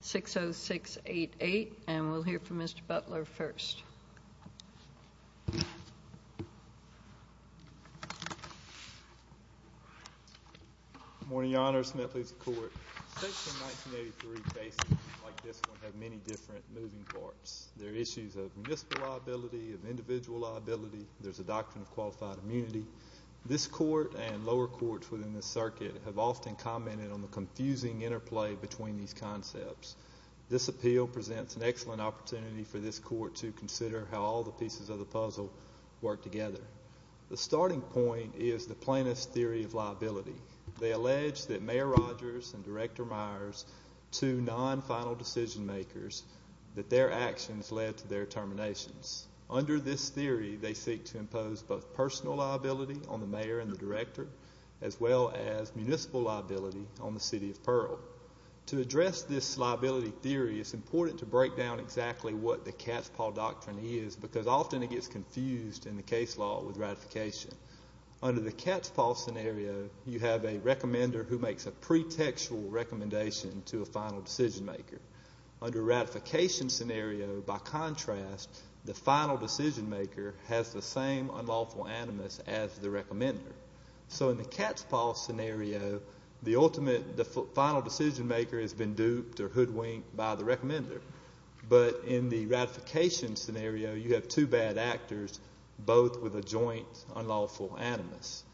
6 0 6 8 8 and we'll hear from Mr Butler first. Morning, Your Honor. Smith is court. Like this one have many different moving parts. There are issues of municipal liability of individual liability. There's a doctrine of qualified immunity. This court and lower courts within the circuit have this appeal presents an excellent opportunity for this court to consider how all the pieces of the puzzle work together. The starting point is the plaintiff's theory of liability. They allege that Mayor Rogers and Director Myers to non final decision makers that their actions led to their terminations. Under this theory, they seek to impose both personal liability on the mayor and the director, as well as municipal liability on the city of theory. It's important to break down exactly what the cat's paw doctrine is, because often it gets confused in the case law with ratification. Under the cat's paw scenario, you have a recommender who makes a pretextual recommendation to a final decision maker under ratification scenario. By contrast, the final decision maker has the same unlawful animus as the recommender. So in the cat's paw scenario, the ultimate final decision maker has been duped or hoodwinked by the recommender. But in the ratification scenario, you have two bad actors, both with a joint unlawful animus.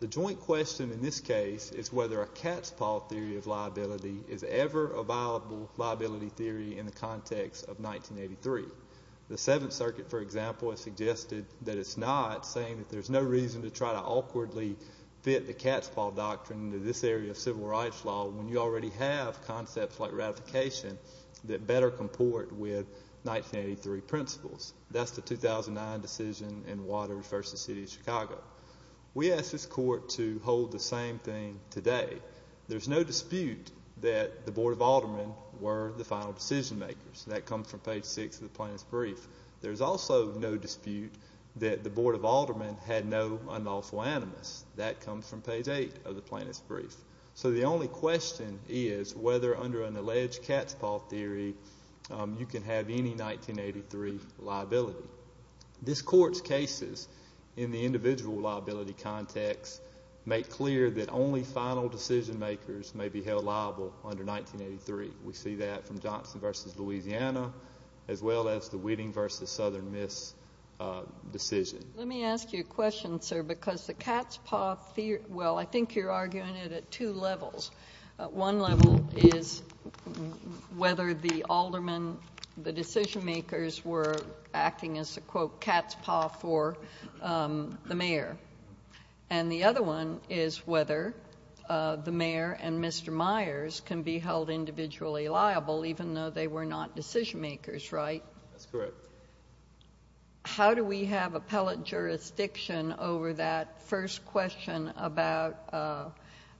The joint question in this case is whether a cat's paw theory of liability is ever a viable liability theory in the context of 1983. The Seventh Circuit, for example, has suggested that it's not saying that there's no reason to try to awkwardly fit the cat's paw doctrine to this area of civil rights law when you already have concepts like ratification that better comport with 1983 principles. That's the 2009 decision in Water v. City of Chicago. We asked this court to hold the same thing today. There's no dispute that the Board of Aldermen were the final decision makers. That comes from page six of the plaintiff's brief. There's also no dispute that the Board of Aldermen had no unlawful animus. That comes from page eight of the plaintiff's brief. So the only question is whether under an alleged cat's paw theory, you can have any 1983 liability. This court's cases in the individual liability context make clear that only final decision makers may be held liable under 1983. We see that from Johnson v. Louisiana, as well as the Whitting v. Southern Miss decision. Let me ask you a question, sir, because the court is arguing it at two levels. One level is whether the aldermen, the decision makers were acting as a, quote, cat's paw for the mayor. And the other one is whether the mayor and Mr. Myers can be held individually liable even though they were not decision makers, right? That's correct. How do we have appellate jurisdiction over that first question about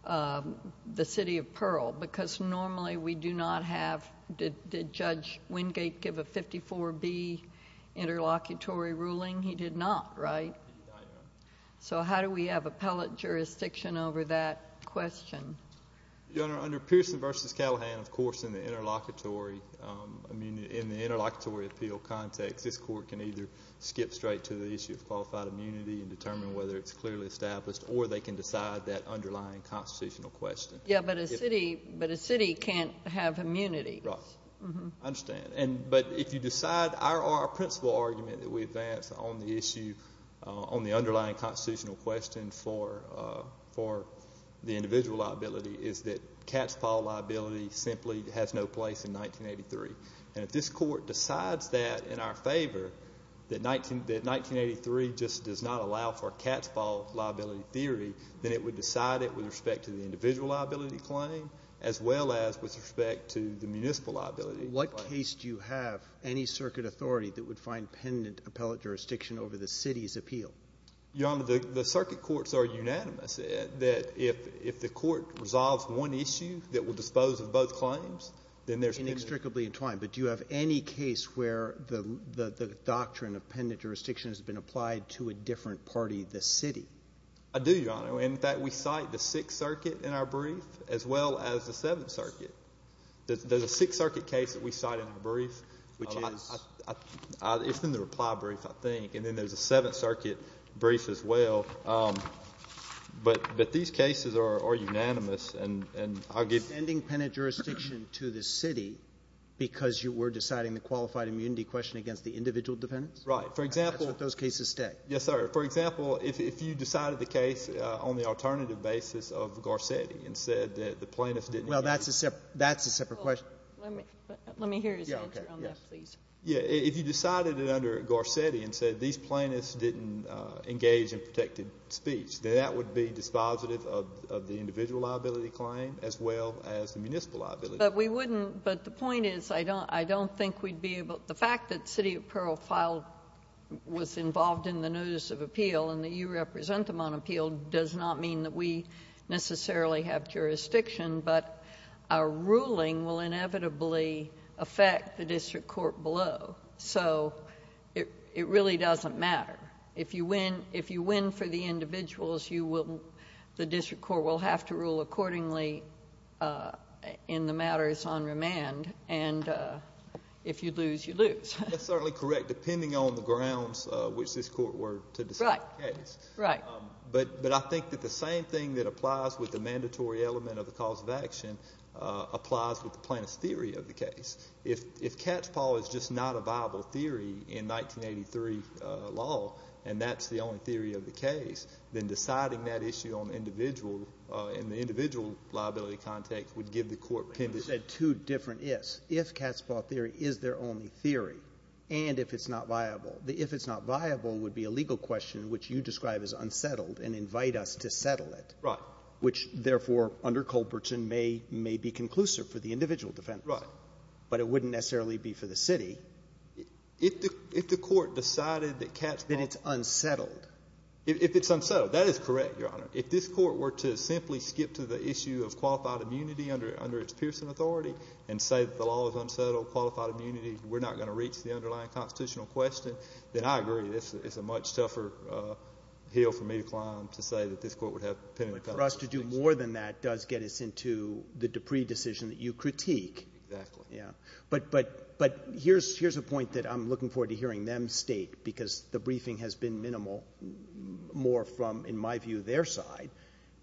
the city of Pearl? Because normally we do not have, did Judge Wingate give a 54B interlocutory ruling? He did not, right? So how do we have appellate jurisdiction over that question? Your Honor, under Pearson v. Callahan, of course, in the interlocutory, I mean, in the interlocutory appeal context, this court can either skip straight to the issue of qualified immunity and determine whether it's clearly established, or they can decide that underlying constitutional question. Yeah, but a city can't have immunity. Right. I understand. But if you decide, our principal argument that we advance on the issue, on the underlying constitutional question for the individual liability is that cat's paw liability simply has no place in 1983. And at this court decides that in our favor, that 1983 just does not allow for cat's paw liability theory, then it would decide it with respect to the individual liability claim, as well as with respect to the municipal liability claim. What case do you have, any circuit authority that would find pendant appellate jurisdiction over the city's appeal? Your Honor, the circuit courts are unanimous that if the court resolves one issue that will dispose of both claims, then there's pendant. I'm strictly entwined. But do you have any case where the doctrine of pendant jurisdiction has been applied to a different party, the city? I do, Your Honor. In fact, we cite the Sixth Circuit in our brief, as well as the Seventh Circuit. There's a Sixth Circuit case that we cite in our brief. Which is? It's in the reply brief, I think. And then there's a Seventh Circuit brief, as well. But these cases are unanimous, and I'll give you the answer. Because you were deciding the qualified immunity question against the individual defendants? Right. For example ---- That's what those cases say. Yes, sir. For example, if you decided the case on the alternative basis of Garcetti and said that the plaintiffs didn't ---- Well, that's a separate question. Let me hear his answer on that, please. Yes. Yes. If you decided it under Garcetti and said these plaintiffs didn't engage in protected speech, then that would be dispositive of the individual liability claim, as well as the municipal liability claim. But we wouldn't ---- but the point is, I don't think we'd be able to ---- the fact that City of Pearl filed ---- was involved in the notice of appeal and that you represent them on appeal does not mean that we necessarily have jurisdiction, but our ruling will inevitably affect the district court below. So it really doesn't matter. If you win for the individuals, you will ---- the district court will have to rule accordingly in the matters on remand, and if you lose, you lose. That's certainly correct, depending on the grounds which this court were to decide the case. Right. Right. But I think that the same thing that applies with the mandatory element of the cause of action applies with the plaintiff's theory of the case. If catchpaw is just not a viable theory in 1983 law, and that's the only theory of the individual liability context would give the court ---- You said two different ifs. If catchpaw theory is their only theory, and if it's not viable, the if it's not viable would be a legal question which you describe as unsettled and invite us to settle it. Right. Which, therefore, under Culbertson may be conclusive for the individual defense. Right. But it wouldn't necessarily be for the city. If the court decided that catchpaw ---- Then it's unsettled. If it's unsettled. That is correct, Your Honor. If this court were to simply skip to the issue of qualified immunity under its Pearson authority and say that the law is unsettled, qualified immunity, we're not going to reach the underlying constitutional question, then I agree it's a much tougher hill for me to climb to say that this court would have penitentiary penalties. But for us to do more than that does get us into the Dupree decision that you critique. Exactly. Yeah. But here's a point that I'm looking forward to hearing them state, because the briefing has been minimal, more from, in my view, their side.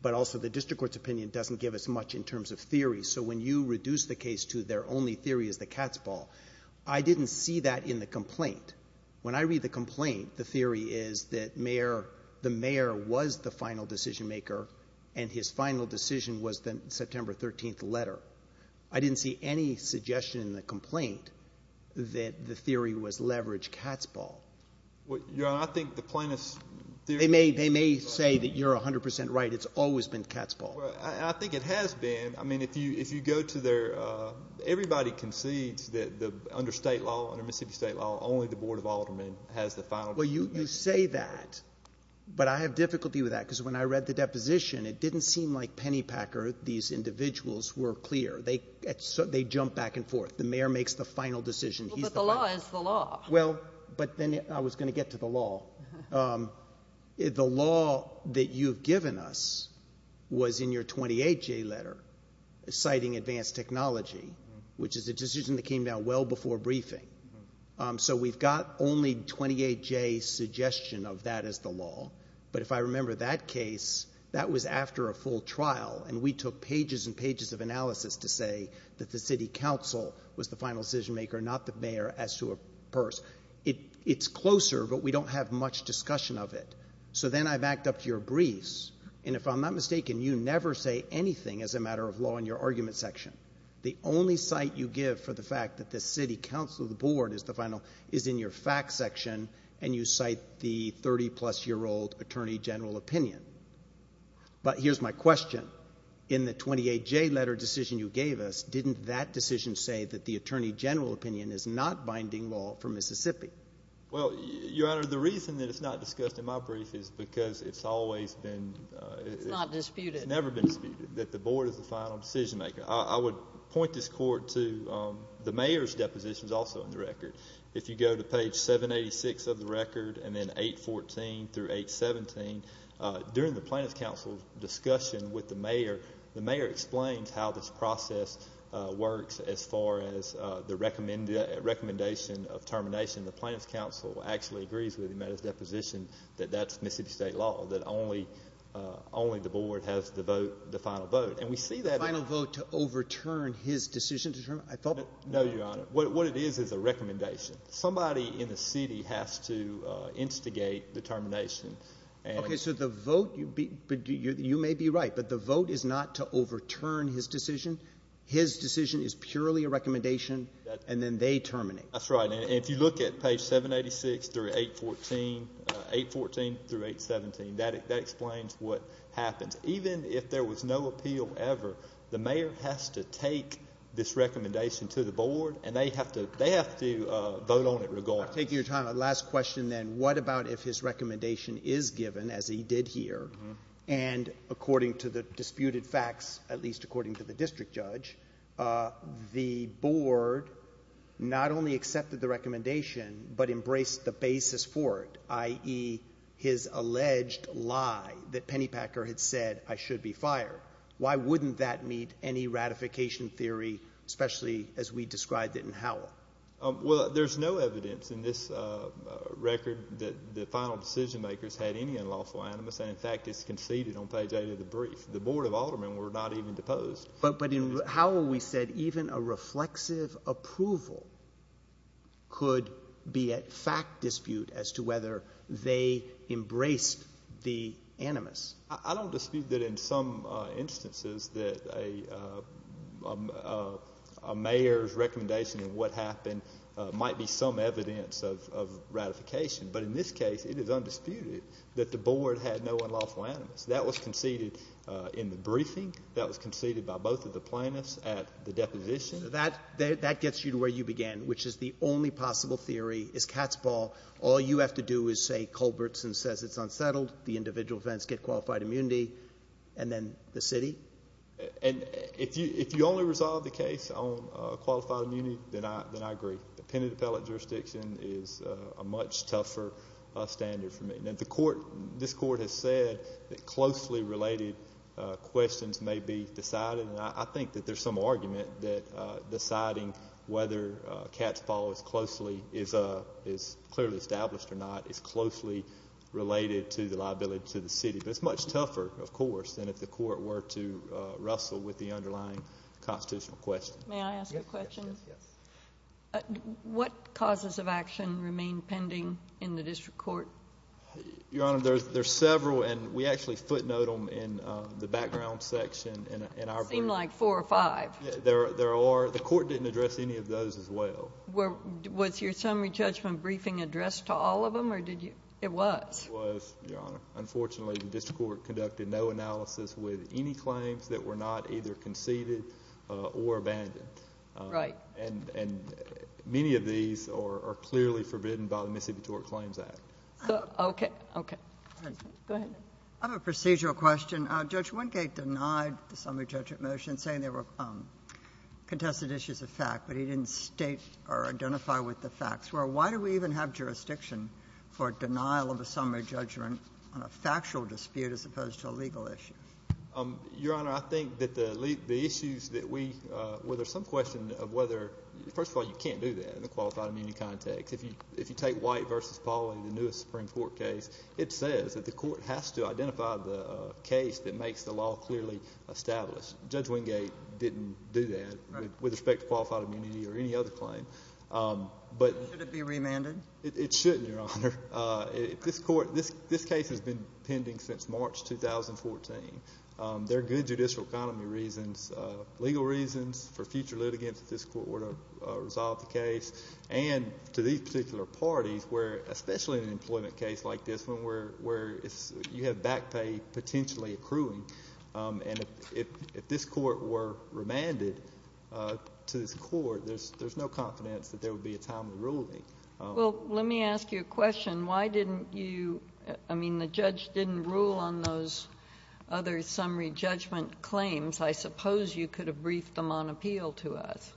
But also the district court's opinion doesn't give us much in terms of theory. So when you reduce the case to their only theory is the catchpaw, I didn't see that in the complaint. When I read the complaint, the theory is that the mayor was the final decision-maker and his final decision was the September 13th letter. I didn't see any suggestion in the complaint that the theory was leverage catchpaw. Your Honor, I think the plaintiff's theory- They may say that you're 100 percent right. It's always been catchpaw. Well, I think it has been. I mean, if you go to their, everybody concedes that under state law, under Mississippi state law, only the Board of Aldermen has the final- Well, you say that, but I have difficulty with that, because when I read the deposition, it didn't seem like Pennypacker, these individuals, were clear. They jump back and forth. The mayor makes the final decision. He's the final- Well, but the law is the law. Well, but then I was going to get to the law. The law that you've given us was in your 28-J letter, citing advanced technology, which is a decision that came down well before briefing. So we've got only 28-J suggestion of that as the law, but if I remember that case, that was after a full trial, and we took pages and pages of analysis to say that the city council was the final decision maker, not the mayor, as to a person. It's closer, but we don't have much discussion of it. So then I backed up your briefs, and if I'm not mistaken, you never say anything as a matter of law in your argument section. The only cite you give for the fact that the city council, the board, is the final, is in your fact section, and you cite the 30-plus-year-old attorney general opinion. But here's my question. In the 28-J letter decision you gave us, didn't that decision say that the attorney general opinion is not binding law for Mississippi? Well, Your Honor, the reason that it's not discussed in my brief is because it's always been, it's never been disputed, that the board is the final decision maker. I would point this court to the mayor's depositions also in the record. If you go to page 786 of the record, and then 814 through 817, during the plaintiff's council discussion with the mayor, the mayor explains how this process works as far as the recommendation of termination. The plaintiff's council actually agrees with him at his deposition that that's Mississippi state law, that only the board has the vote, the final vote. And we see that in... The final vote to overturn his decision to terminate, I thought... No, Your Honor. What it is, is a recommendation. Somebody in the city has to instigate the termination. Okay, so the vote, you may be right, but the vote is not to overturn his decision. His decision is purely a recommendation, and then they terminate. That's right. And if you look at page 786 through 814, 814 through 817, that explains what happens. Even if there was no appeal ever, the mayor has to take this recommendation to the board, and they have to vote on it regardless. Your Honor, taking your time, a last question then. What about if his recommendation is given, as he did here, and according to the disputed facts, at least according to the district judge, the board not only accepted the recommendation, but embraced the basis for it, i.e., his alleged lie that Pennypacker had said, I should be fired. Why wouldn't that meet any ratification theory, especially as we described it in Howell? Well, there's no evidence in this record that the final decision makers had any unlawful animus, and in fact, it's conceded on page 8 of the brief. The board of aldermen were not even deposed. But in Howell, we said even a reflexive approval could be a fact dispute as to whether they embraced the animus. I don't dispute that in some instances that a mayor's recommendation of what happened might be some evidence of ratification. But in this case, it is undisputed that the board had no unlawful animus. That was conceded in the briefing. That was conceded by both of the plaintiffs at the deposition. That gets you to where you began, which is the only possible theory is cat's ball. All you have to do is say Culbertson says it's unsettled. The individual events get qualified immunity. And then the city? And if you only resolve the case on qualified immunity, then I agree. The appended appellate jurisdiction is a much tougher standard for me. This court has said that closely related questions may be decided, and I think that there's some argument that deciding whether cat's ball is clearly established or not is closely related to the liability to the city. But it's much tougher, of course, than if the court were to wrestle with the underlying constitutional question. May I ask a question? Yes. Yes. Yes. Yes. What causes of action remain pending in the district court? Your Honor, there's several, and we actually footnote them in the background section in our brief. They seem like four or five. There are. The court didn't address any of those as well. Was your summary judgment briefing addressed to all of them, or did you? It was. It was, Your Honor. Unfortunately, the district court conducted no analysis with any claims that were not either conceded or abandoned. Right. And many of these are clearly forbidden by the Mississippi Tort Claims Act. Okay. Okay. Go ahead. I have a procedural question. Judge Wendgate denied the summary judgment motion, saying there were contested issues of fact, but he didn't state or identify what the facts were. So why do we even have jurisdiction for denial of a summary judgment on a factual dispute as opposed to a legal issue? Your Honor, I think that the issues that we – well, there's some question of whether – first of all, you can't do that in a qualified immunity context. If you take White v. Paul in the newest Supreme Court case, it says that the court has to identify the case that makes the law clearly established. Judge Wendgate didn't do that with respect to qualified immunity or any other claim. But – Should it be remanded? It shouldn't, Your Honor. If this court – this case has been pending since March 2014. There are good judicial economy reasons, legal reasons for future litigants if this court were to resolve the case, and to these particular parties, where – especially in an employment case like this one, where it's – you have back pay potentially accruing. And if this court were remanded to this court, there's no confidence that there would be a timely ruling. Well, let me ask you a question. Why didn't you – I mean, the judge didn't rule on those other summary judgment claims. I suppose you could have briefed them on appeal to us.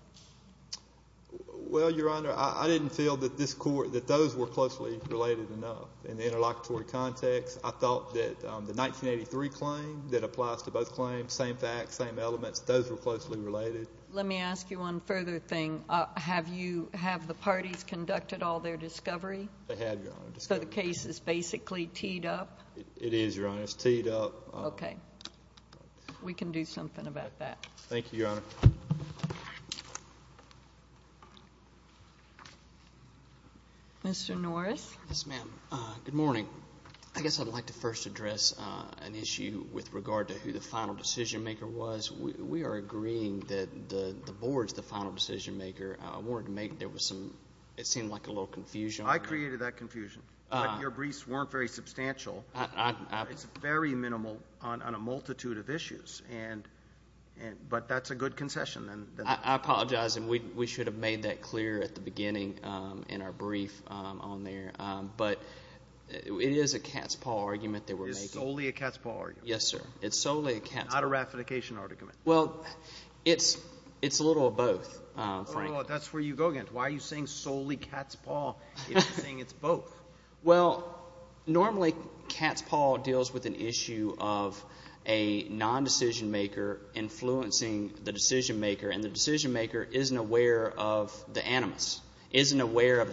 Well, Your Honor, I didn't feel that this court – that those were closely related enough. In the interlocutory context, I thought that the 1983 claim that applies to both claims, same facts, same elements, those were closely related. Let me ask you one further thing. Have you – have the parties conducted all their discovery? They have, Your Honor. So the case is basically teed up? It is, Your Honor. It's teed up. Okay. We can do something about that. Thank you, Your Honor. Mr. Norris? Yes, ma'am. Good morning. I guess I'd like to first address an issue with regard to who the final decision maker was. We are agreeing that the board's the final decision maker. I wanted to make – there was some – it seemed like a little confusion. I created that confusion. Your briefs weren't very substantial. It's very minimal on a multitude of issues. And – but that's a good concession. I apologize, and we should have made that clear at the beginning in our brief on there. But it is a cat's paw argument that we're making. It's solely a cat's paw argument. Yes, sir. It's solely a cat's paw. Not a ratification argument. Well, it's a little of both, frankly. No, no, no. That's where you go again. Why are you saying solely cat's paw if you're saying it's both? Well, normally cat's paw deals with an issue of a non-decision maker influencing the decision maker, and the decision maker isn't aware of the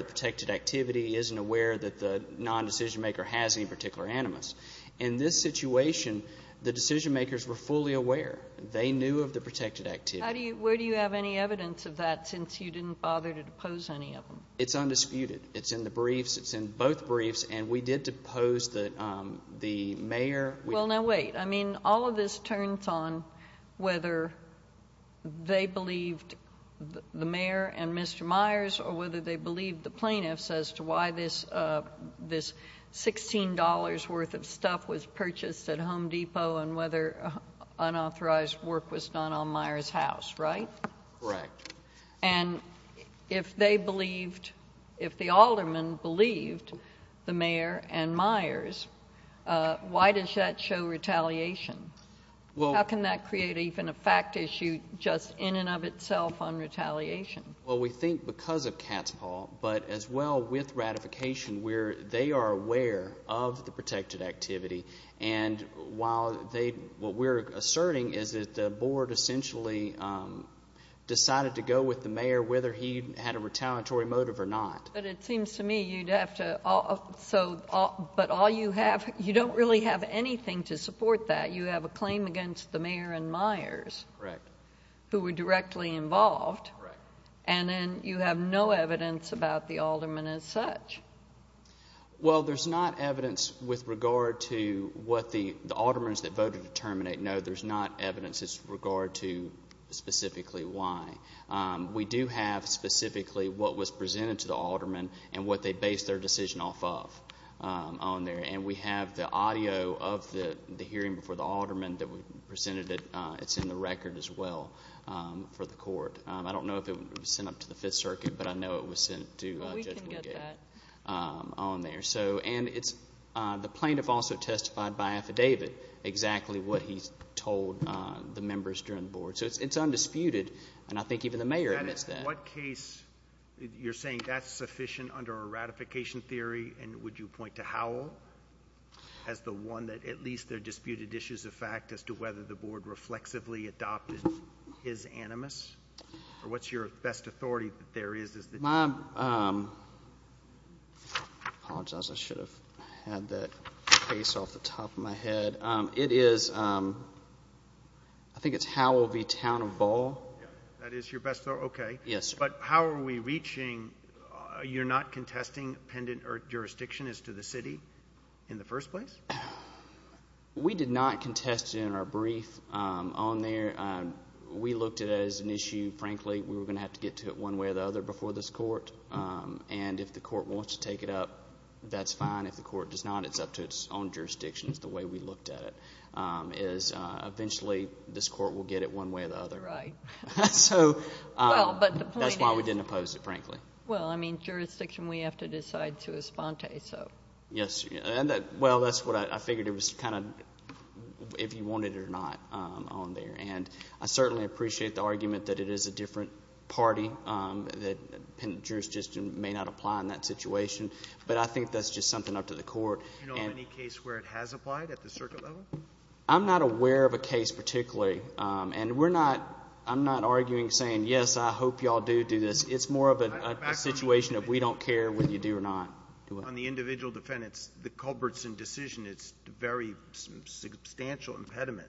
protected activity, isn't aware that the non-decision maker has any particular animus. In this situation, the decision makers were fully aware. They knew of the protected activity. How do you – where do you have any evidence of that since you didn't bother to depose any of them? It's undisputed. It's in the briefs. It's in both briefs. And we did depose the mayor. Well, now, wait. I mean, all of this turns on whether they believed the mayor and Mr. Myers or whether they believed the plaintiffs as to why this $16 worth of stuff was purchased at Home Depot and whether unauthorized work was done on Myers' house, right? Correct. And if they believed – if the aldermen believed the mayor and Myers, why does that show retaliation? How can that create even a fact issue just in and of itself on retaliation? Well, we think because of Catspaw, but as well with ratification where they are aware of the protected activity. And while they – what we're asserting is that the board essentially decided to go with the mayor whether he had a retaliatory motive or not. But it seems to me you'd have to – so – but all you have – you don't really have anything to support that. You have a claim against the mayor and Myers. Correct. Who were directly involved. Correct. And then you have no evidence about the aldermen as such. Well, there's not evidence with regard to what the aldermens that voted to terminate. No, there's not evidence as regard to specifically why. We do have specifically what was presented to the aldermen and what they based their decision off of on there. And we have the audio of the hearing before the aldermen that we presented. It's in the record as well for the court. I don't know if it was sent up to the 5th Circuit, but I know it was sent to Judge Woodgate. Well, we can get that. On there. So – and it's – the plaintiff also testified by affidavit exactly what he told the members during the board. So it's undisputed. And I think even the mayor admits that. What case – you're saying that's sufficient under a ratification theory and would you point to Howell as the one that at least there are disputed issues of fact as to whether the board reflexively adopted his animus? Or what's your best authority that there is? My – I apologize. I should have had that case off the top of my head. It is – I think it's Howell v. Town of Bow. Yeah. That is your best – okay. Yes, sir. But how are we reaching – you're not contesting pendent or jurisdiction as to the city in the first place? We did not contest it in our brief on there. We looked at it as an issue. Frankly, we were going to have to get to it one way or the other before this court. And if the court wants to take it up, that's fine. If the court does not, it's up to its own jurisdictions. The way we looked at it is eventually this court will get it one way or the other. Right. So – Well, but the point is – That's why we didn't oppose it, frankly. Well, I mean, jurisdiction we have to decide to esponte, so. Yes. And that – well, that's what I figured it was kind of if you wanted it or not on there. And I certainly appreciate the argument that it is a different party that pendent jurisdiction may not apply in that situation. But I think that's just something up to the court. Do you know of any case where it has applied at the circuit level? I'm not aware of a case particularly. And we're not – I'm not arguing saying, yes, I hope you all do do this. It's more of a situation of we don't care whether you do or not. On the individual defendants, the Culbertson decision, it's a very substantial impediment.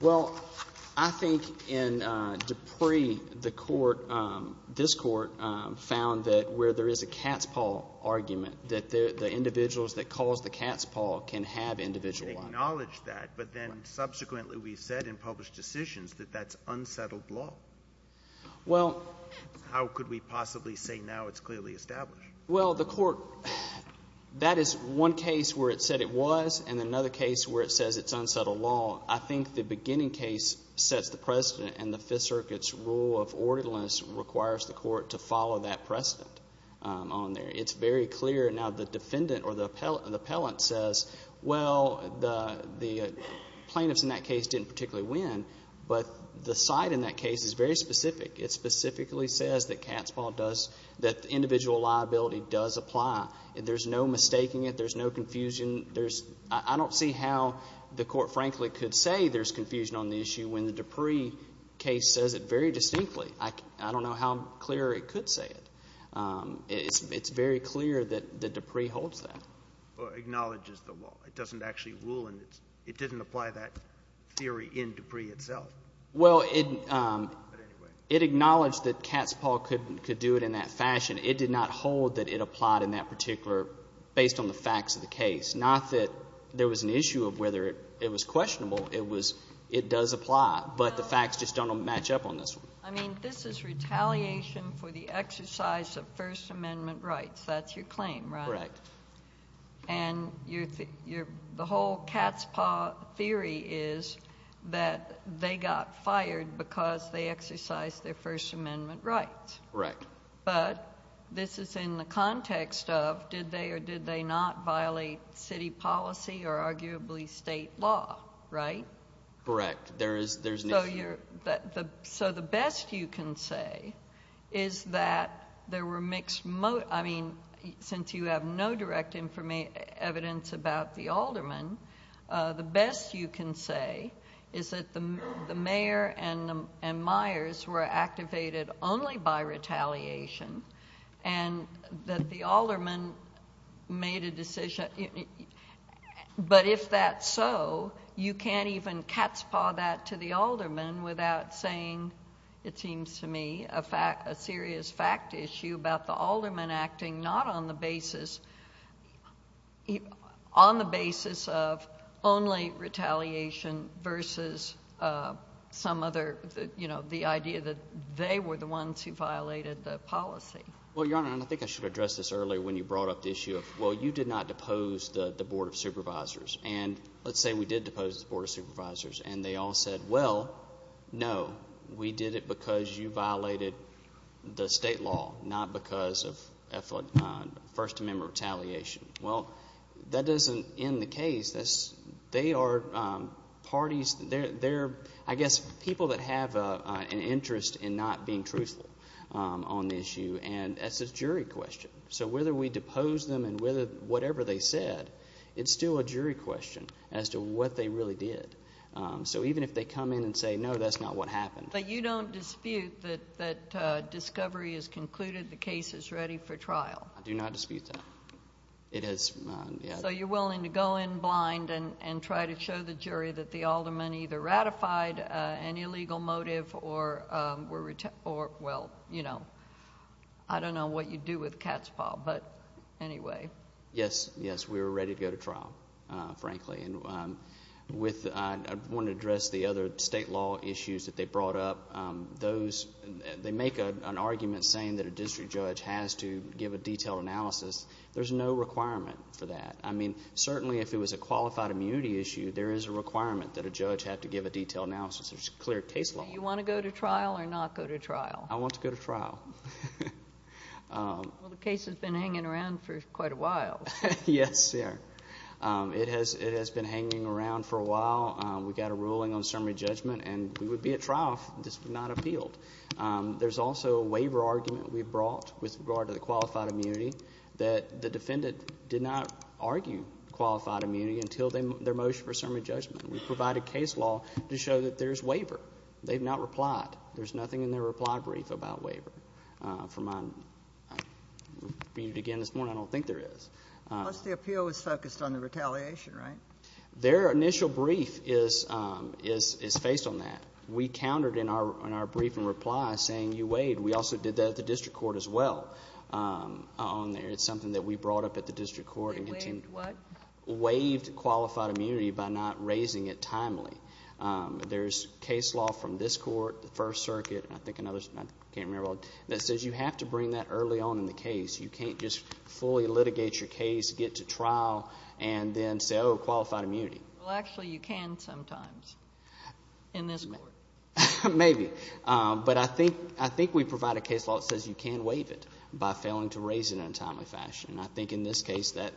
Well, I think in Dupree, the court, this court, found that where there is a cat's paw argument, that the individuals that cause the cat's paw can have individual life. We acknowledge that. But then subsequently we said in published decisions that that's unsettled law. Well – How could we possibly say now it's clearly established? Well, the court – that is one case where it said it was, and another case where it says it's unsettled law. I think the beginning case sets the precedent, and the Fifth Circuit's rule of orderliness requires the court to follow that precedent on there. It's very clear. Now, the defendant or the appellant says, well, the plaintiffs in that case didn't particularly win, but the side in that case is very specific. It specifically says that cat's paw does – that individual liability does apply. There's no mistaking it. There's no confusion. There's – I don't see how the court, frankly, could say there's confusion on the issue when the Dupree case says it very distinctly. I don't know how clear it could say it. It's very clear that Dupree holds that. Or acknowledges the law. It doesn't actually rule in its – it doesn't apply that theory in Dupree itself. Well, it – But anyway. It acknowledged that cat's paw could do it in that fashion. It did not hold that it applied in that particular – based on the facts of the case. Not that there was an issue of whether it was questionable. It was – it does apply. But the facts just don't match up on this one. I mean, this is retaliation for the exercise of First Amendment rights. That's your claim, right? Correct. And your – the whole cat's paw theory is that they got fired because they exercised their First Amendment rights. Correct. But this is in the context of did they or did they not violate city policy or arguably state law, right? Correct. There is – there's no – So you're – so the best you can say is that there were mixed – I mean, since you have no direct evidence about the aldermen, the best you can say is that the mayor and Myers were activated only by retaliation and that the aldermen made a decision. But if that's so, you can't even cat's paw that to the aldermen without saying, it seems to me, a serious fact issue about the aldermen acting not on the basis – on the basis of only retaliation versus some other – the idea that they were the ones who violated the policy. Well, Your Honor, and I think I should have addressed this earlier when you brought up the issue of, well, you did not depose the Board of Supervisors. And let's say we did depose the Board of Supervisors and they all said, well, no, we did it because you violated the state law, not because of First Amendment retaliation. Well, that doesn't end the case. They are parties – they're, I guess, people that have an interest in not being truthful on the issue. And that's a jury question. So whether we depose them and whatever they said, it's still a jury question as to what they really did. So even if they come in and say, no, that's not what happened. But you don't dispute that discovery is concluded, the case is ready for trial? I do not dispute that. It has – So you're willing to go in blind and try to show the jury that the aldermen either ratified an illegal motive or were – or, well, you know, I don't know what you do with cat's paw. But anyway. Yes, yes, we were ready to go to trial, frankly. And with – I want to address the other state law issues that they brought up. Those – they make an argument saying that a district judge has to give a detailed analysis. There's no requirement for that. I mean, certainly if it was a qualified immunity issue, there is a requirement that a judge have to give a detailed analysis. There's a clear case law. So you want to go to trial or not go to trial? I want to go to trial. Well, the case has been hanging around for quite a while. Yes, sir. It has been hanging around for a while. We got a ruling on summary judgment. And we would be at trial if this was not appealed. There's also a waiver argument we brought with regard to the qualified immunity that the defendant did not argue qualified immunity until their motion for summary judgment. We provided case law to show that there's waiver. They've not replied. There's nothing in their reply brief about waiver. From my – read it again this morning, I don't think there is. Plus the appeal was focused on the retaliation, right? Their initial brief is based on that. We countered in our briefing reply saying you waived. We also did that at the district court as well on there. It's something that we brought up at the district court. Waived what? Waived qualified immunity by not raising it timely. There's case law from this court, the First Circuit, and I think another – I can't remember – that says you have to bring that early on in the case. You can't just fully litigate your case, get to trial, and then say, oh, qualified immunity. Well, actually, you can sometimes in this court. Maybe. But I think we provide a case law that says you can waive it by failing to raise it in a timely fashion. I think in this case that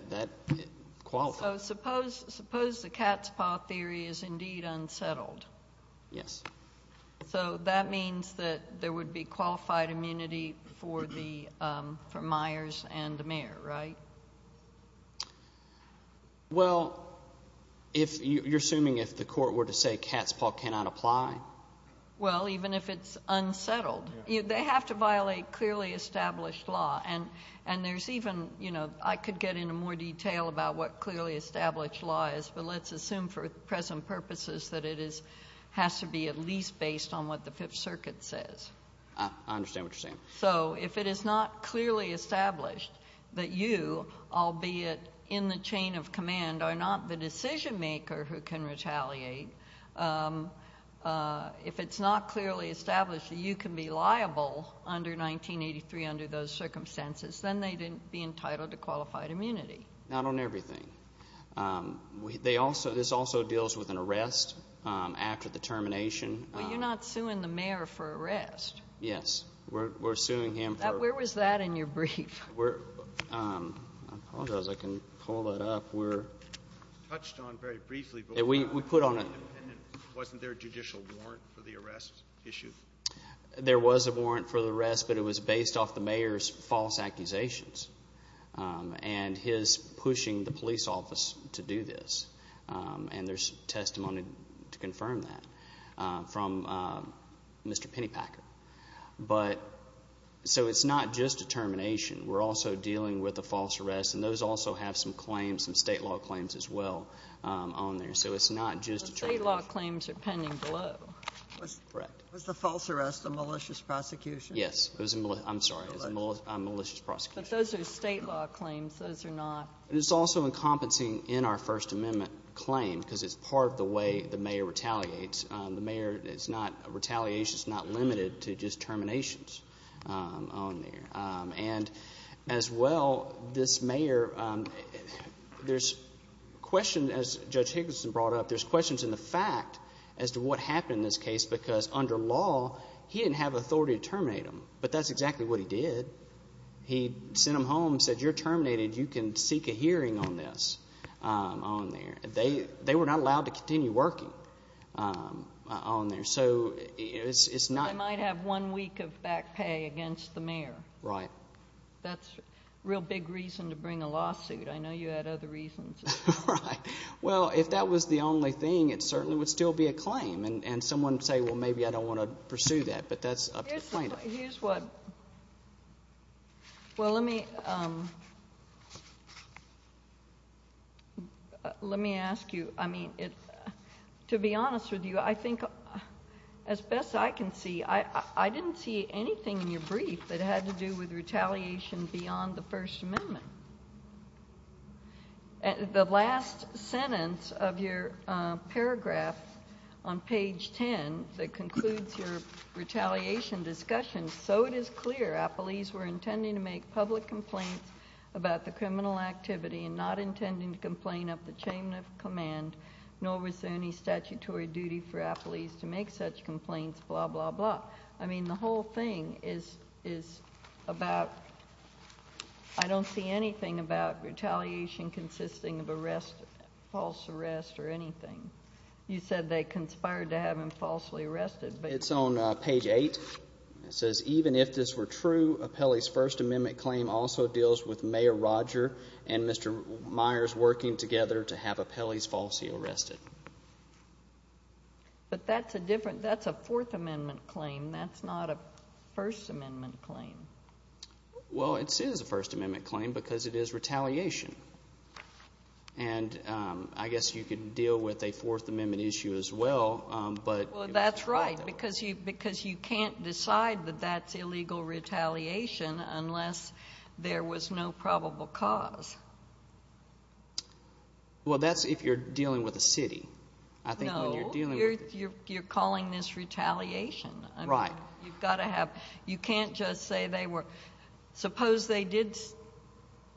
qualifies. So suppose the cat's paw theory is indeed unsettled. Yes. So that means that there would be qualified immunity for Myers and the mayor, right? Well, you're assuming if the court were to say cat's paw cannot apply? Well, even if it's unsettled. They have to violate clearly established law. And there's even – I could get into more detail about what clearly established law is, but let's assume for present purposes that it has to be at least based on what the Fifth Circuit says. I understand what you're saying. So if it is not clearly established that you, albeit in the chain of command, are not the decision maker who can retaliate, if it's not clearly established that you can be liable under 1983 under those circumstances, then they didn't be entitled to qualified immunity. Not on everything. This also deals with an arrest after the termination. But you're not suing the mayor for arrest. Yes. We're suing him for – Where was that in your brief? I apologize. I can pull that up. We're – It was touched on very briefly. We put on a – Wasn't there a judicial warrant for the arrest issue? There was a warrant for the arrest, but it was based off the mayor's false accusations and his pushing the police office to do this. And there's testimony to confirm that from Mr. Pennypacker. But – So it's not just a termination. We're also dealing with a false arrest, and those also have some claims, some state law claims as well on there. So it's not just a termination. State law claims are pending below. Correct. Was the false arrest a malicious prosecution? Yes. It was a – I'm sorry. It was a malicious prosecution. But those are state law claims. Those are not – It's also encompassing in our First Amendment claim because it's part of the way the mayor retaliates. The mayor is not – Retaliation is not limited to just terminations on there. And as well, this mayor – There's questions, as Judge Higginson brought up, there's questions in the fact as to what happened in this case because under law, he didn't have authority to terminate him. But that's exactly what he did. He sent him home and said, You're terminated. You can seek a hearing on this on there. They were not allowed to continue working. So it's not – They might have one week of back pay against the mayor. Right. That's a real big reason to bring a lawsuit. I know you had other reasons. Right. Well, if that was the only thing, it certainly would still be a claim. And someone would say, Well, maybe I don't want to pursue that. But that's up to the plaintiff. Here's what – Well, let me – Let me ask you. I mean, to be honest with you, I think as best I can see, I didn't see anything in your brief that had to do with retaliation beyond the First Amendment. The last sentence of your paragraph on page 10 that concludes your retaliation discussion, so it is clear appellees were intending to make public complaints about the criminal activity and not intending to complain of the chain of command, nor was there any statutory duty for appellees to make such complaints, blah, blah, blah. I mean, the whole thing is about – I don't see anything about retaliation consisting of arrest – false arrest or anything. You said they conspired to have him falsely arrested. It's on page 8. It says, Even if this were true, Appellee's First Amendment claim also deals with Mayor Roger and Mr. Myers working together to have appellees falsely arrested. But that's a different – that's a Fourth Amendment claim. That's not a First Amendment claim. Well, it is a First Amendment claim because it is retaliation. And I guess you could deal with a Fourth Amendment issue as well, but – Well, that's right because you can't decide that that's illegal retaliation unless there was no probable cause. Well, that's if you're dealing with a city. No. I think when you're dealing with – You're calling this retaliation. Right. You've got to have – you can't just say they were – suppose they did,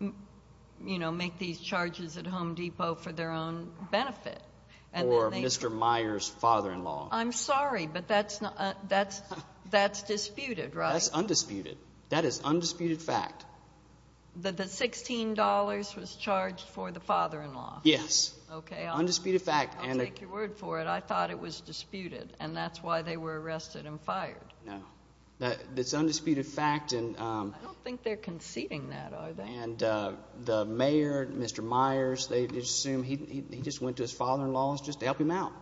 you know, make these charges at Home Depot for their own benefit. Or Mr. Myers' father-in-law. I'm sorry, but that's not – that's – that's disputed, right? That's undisputed. That is undisputed fact. That the $16 was charged for the father-in-law? Yes. Okay. Undisputed fact. I'll take your word for it. I thought it was disputed and that's why they were arrested and fired. No. That's undisputed fact and – I don't think they're conceding that, are they? And the mayor, Mr. Myers, they assume he just went to his father-in-law just to help him out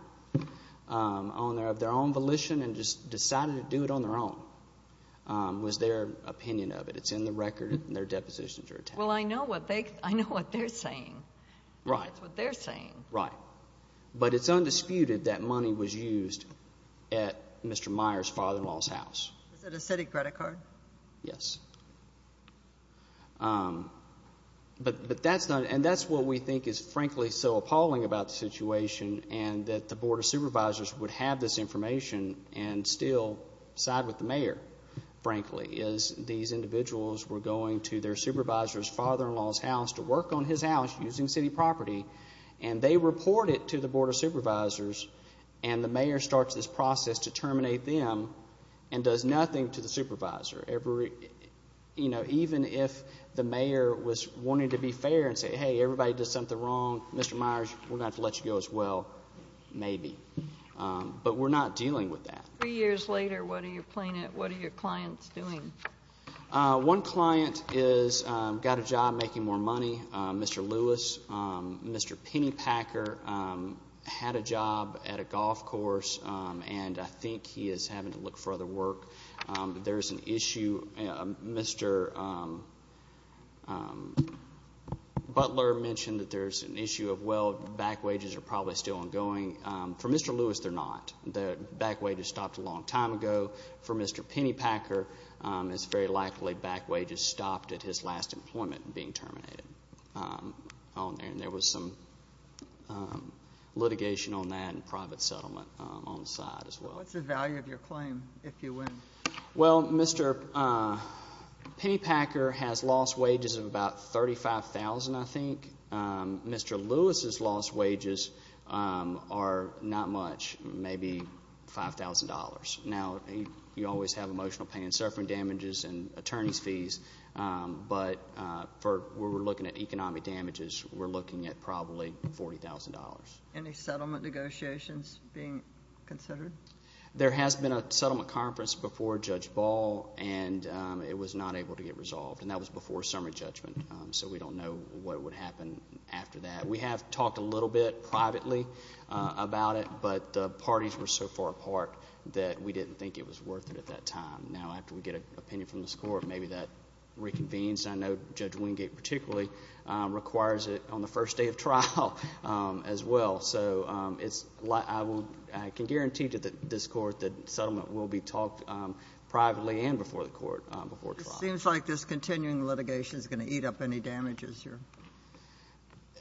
of their own volition and just decided to do it on their own. Was their opinion of it. It's in the record and their depositions are attached. Well, I know what they – I know what they're saying. Right. That's what they're saying. Right. But it's undisputed that money was used at Mr. Myers' father-in-law's house. Is it a city credit card? Yes. But – but that's not – and that's what we think is frankly so appalling about the situation and that the Board of Supervisors would have this information and still side with the mayor frankly is these individuals were going to their supervisor's father-in-law's house to work on his house using city property and they report it to the Board of Supervisors and the mayor starts this process to terminate them and does nothing to the supervisor. Every – you know, even if the mayor was wanting to be fair and say, hey, everybody did something wrong. Mr. Myers, we're going to have to let you go as well. Maybe. But we're not dealing with that. Three years later, what are your clients doing? One client is – got a job making more money. Mr. Lewis, Mr. Pennypacker had a job at a golf course and I think he is having to look for other work. There's an issue – Mr. Butler mentioned that there's an issue of well, back wages are probably still ongoing. For Mr. Lewis, they're not. The back wages stopped a long time ago. For Mr. Pennypacker, it's very likely back wages stopped at his last employment and being terminated. And there was some litigation on that and private settlement on the side as well. What's the value of your claim if you win? Well, Mr. Pennypacker has lost wages of about $35,000, I think. Mr. Lewis' lost wages are not much, maybe $5,000. Now, you always have emotional pain and suffering damages and attorney's fees, but for where we're looking at economic damages, we're looking at probably $40,000. Any settlement negotiations being considered? There has been a settlement conference before Judge Ball and it was not able to get resolved and that was before summary judgment, so we don't know what would happen after that. We have talked a little bit privately about it, but the parties were so far apart that we didn't think it was worth it at that time. Now, after we get an opinion from this court, maybe that reconvenes and I know Judge Wingate particularly requires it on the first day of trial as well, so I can guarantee to this court that settlement will be talked privately and before the court before trial. It seems like this continuing litigation is going to eat up any damages.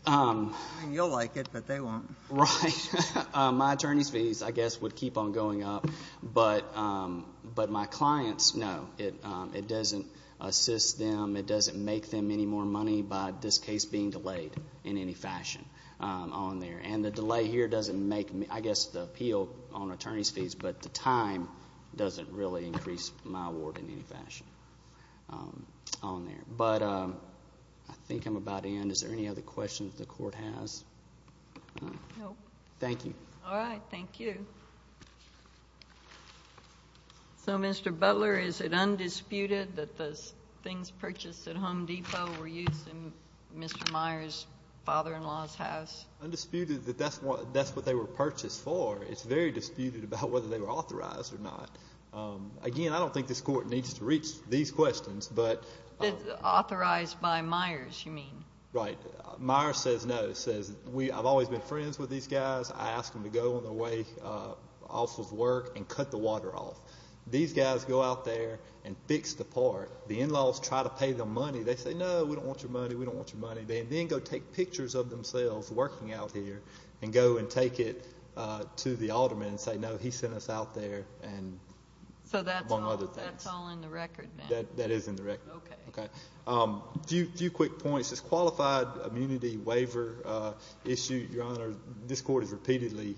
You'll like it, but they won't. Right. My attorney's fees, I guess, would keep on going up, but my clients, no, it doesn't assist them, it doesn't make them any more money by this case being delayed in any fashion on there and the delay here doesn't make, I guess, the appeal on attorney's fees, but the time doesn't really increase my award in any fashion on there, but I think I'm about to end. Is there any other questions the court has? No. Thank you. All right. Thank you. So, Mr. Butler, is it undisputed that those things purchased at Home Depot were used in Mr. Myers' father-in-law's house? Undisputed that that's what they were purchased for. It's very disputed about whether they were authorized or not. Again, I don't think this court needs to reach these questions, but... Authorized by Myers, you mean? Right. Myers says no. Myers says, I've always been friends with these guys. I ask them to go on their way off of work and cut the water off. These guys go out there and fix the part. The in-laws try to pay them money. They say, no, we don't want your money, we don't want your money. They then go take pictures of themselves working out here and go and take it to the alderman and say, no, he sent us out there and among other things. So that's all in the record then? That is in the record. Okay. A few quick points. This qualified immunity waiver issue, Your Honor, this court has repeatedly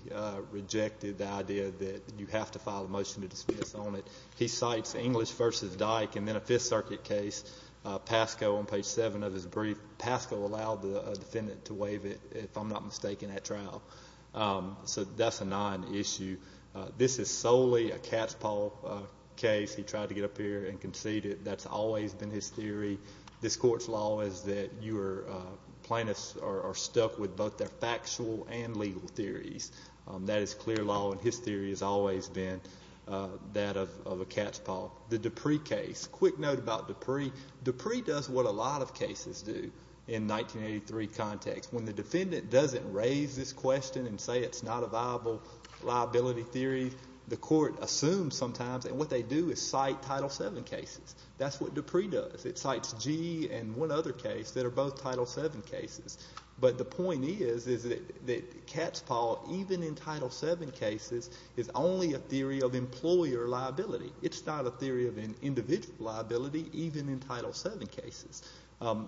rejected the idea that you have to file a motion to dismiss on it. He cites English v. Dyke and then a Fifth Circuit case, Pasco on page seven of his brief. Pasco allowed the defendant to waive it, if I'm not mistaken, at trial. So that's a non-issue. This is solely a cat's paw case. He tried to get up here and concede it. That's always been his theory. This court's law is that plaintiffs are stuck with both their factual and legal theories. That is clear law and his theory has always been that of a cat's paw. The Dupree case. Quick note about Dupree. Dupree does what a lot of cases do in 1983 context. When the defendant doesn't raise this question and say it's not a viable liability theory, the court assumes sometimes and what they do is cite Title VII cases. That's what Dupree does. It cites G and one other case that are both Title VII cases. But the point is is that cat's paw even in Title VII cases is only a theory of employer liability. It's not a theory of an individual liability even in Title VII cases.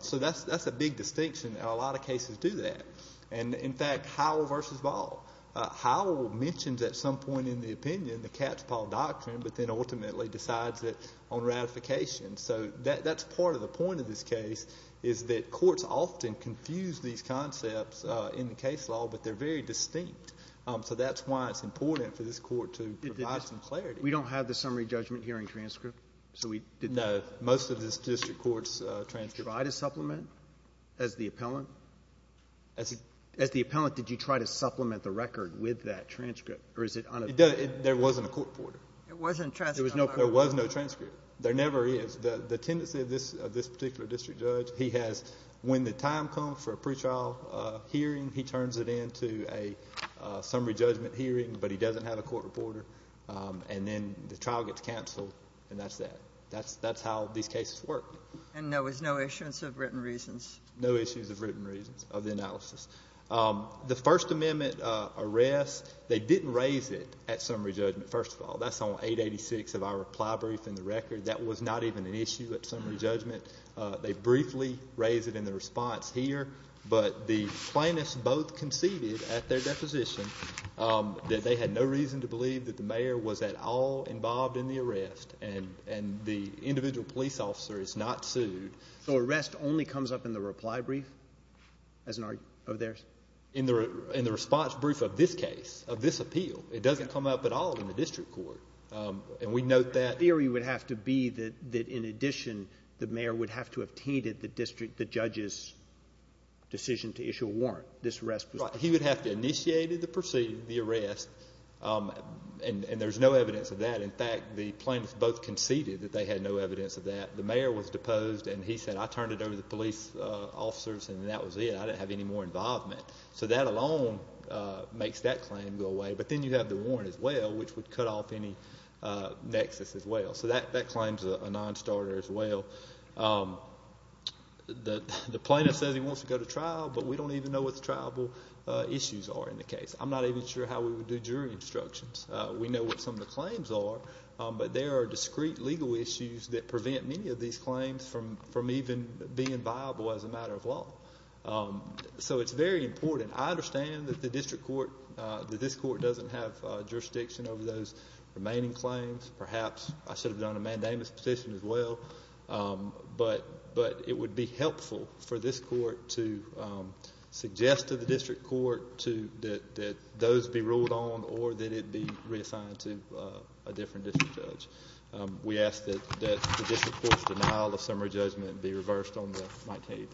So that's a big distinction. A lot of cases do that. In fact, Howell versus Ball. Howell mentions at some point in the opinion the cat's paw doctrine but then ultimately decides it on ratification. So that's part of the point of this case is that courts often confuse these concepts in the case law but they're very distinct. So that's why it's important for this Court to provide some clarity. We don't have the summary judgment hearing transcript? No. Most of this district court's transcript. Did you try to supplement as the appellant? As the appellant did you try to supplement the record with that transcript or is it on a There wasn't a court reporter. There was no transcript. There never is. The tendency of this particular district judge he has when the time comes for a pretrial hearing he turns it into a summary judgment hearing but he doesn't have a court reporter and then the trial gets canceled and that's that. That's how these cases work. And there was no issuance of written reasons? No issues of written reasons of the analysis. The First Amendment arrest they didn't raise it at summary judgment first of all. That's on 886 of our reply brief in the record. That was not even an issue at summary judgment. They briefly raised it in the response here but the plaintiffs both conceded at their deposition that they had no reason to believe that the mayor was at all involved in the arrest and the individual police officer is not sued. So arrest only comes up in the reply brief? In the response brief of this case of this appeal it doesn't come up at all in the district court and we note that The theory would have to be that they perceived the arrest and there's no evidence of that. In fact the plaintiffs both conceded that they had no evidence of that. The mayor was deposed and he said I turned it over to the police officers and that was it. I didn't have any more involvement. So that alone makes that claim go away but then you have the warrant as well which would cut off any nexus as well. So that claims a non-starter as well. The plaintiff says he wants to go to trial but we don't even know what the trialable issues are in the case. I'm not even sure how we would do jury instructions. We know what some of the claims are but there are discrete legal issues that prevent many of these claims from even being viable as a matter of law. So it's very important. I understand that this court doesn't have jurisdiction over those remaining claims. Perhaps I should have done a mandamus petition as well but it would be helpful for this court to suggest to the district court that those be ruled on or that it be reassigned to a different district judge. We ask that the district court's denial of summary judgment be reversed on the Mike Kennedy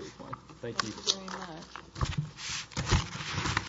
case.